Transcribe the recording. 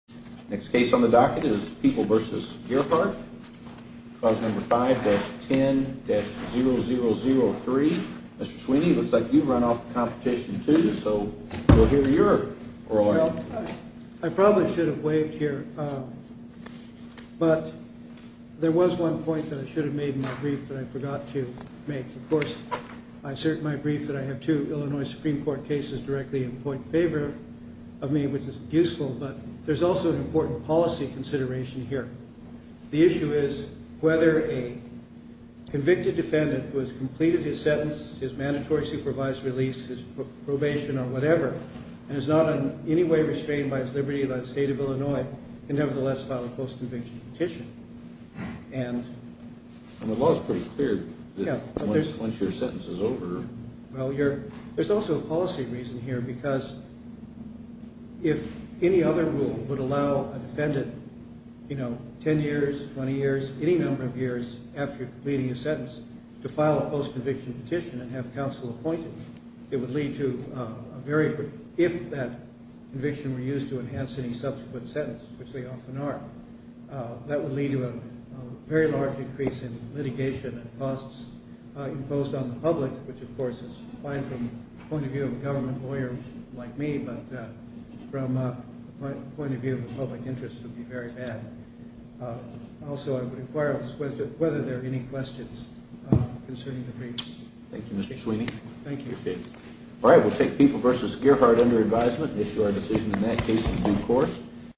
Next case on the docket is People v. Gearhart, clause number 5-10-0003. Mr. Sweeney, it looks like you've run off the competition too, so we'll hear your oral argument. Well, I probably should have waived here, but there was one point that I should have made in my brief that I forgot to make. Of course, I assert in my brief that I have two Illinois Supreme Court cases directly in point favor of me, which is useful, but there's also an important policy consideration here. The issue is whether a convicted defendant who has completed his sentence, his mandatory supervised release, his probation or whatever, and is not in any way restrained by his liberty by the state of Illinois, can nevertheless file a post-conviction petition. And the law is pretty clear that once your sentence is over... There's also a policy reason here, because if any other rule would allow a defendant 10 years, 20 years, any number of years after completing a sentence to file a post-conviction petition and have counsel appointed, it would lead to a very... If that conviction were used to enhance any subsequent sentence, which they often are, that would lead to a very large increase in litigation and costs imposed on the public, which, of course, is fine from the point of view of a government lawyer like me, but from the point of view of the public interest, it would be very bad. Also, I would inquire whether there are any questions concerning the briefs. Thank you, Mr. Sweeney. Thank you. All right, we'll take People v. Gearhart under advisement and issue our decision in that case in due course.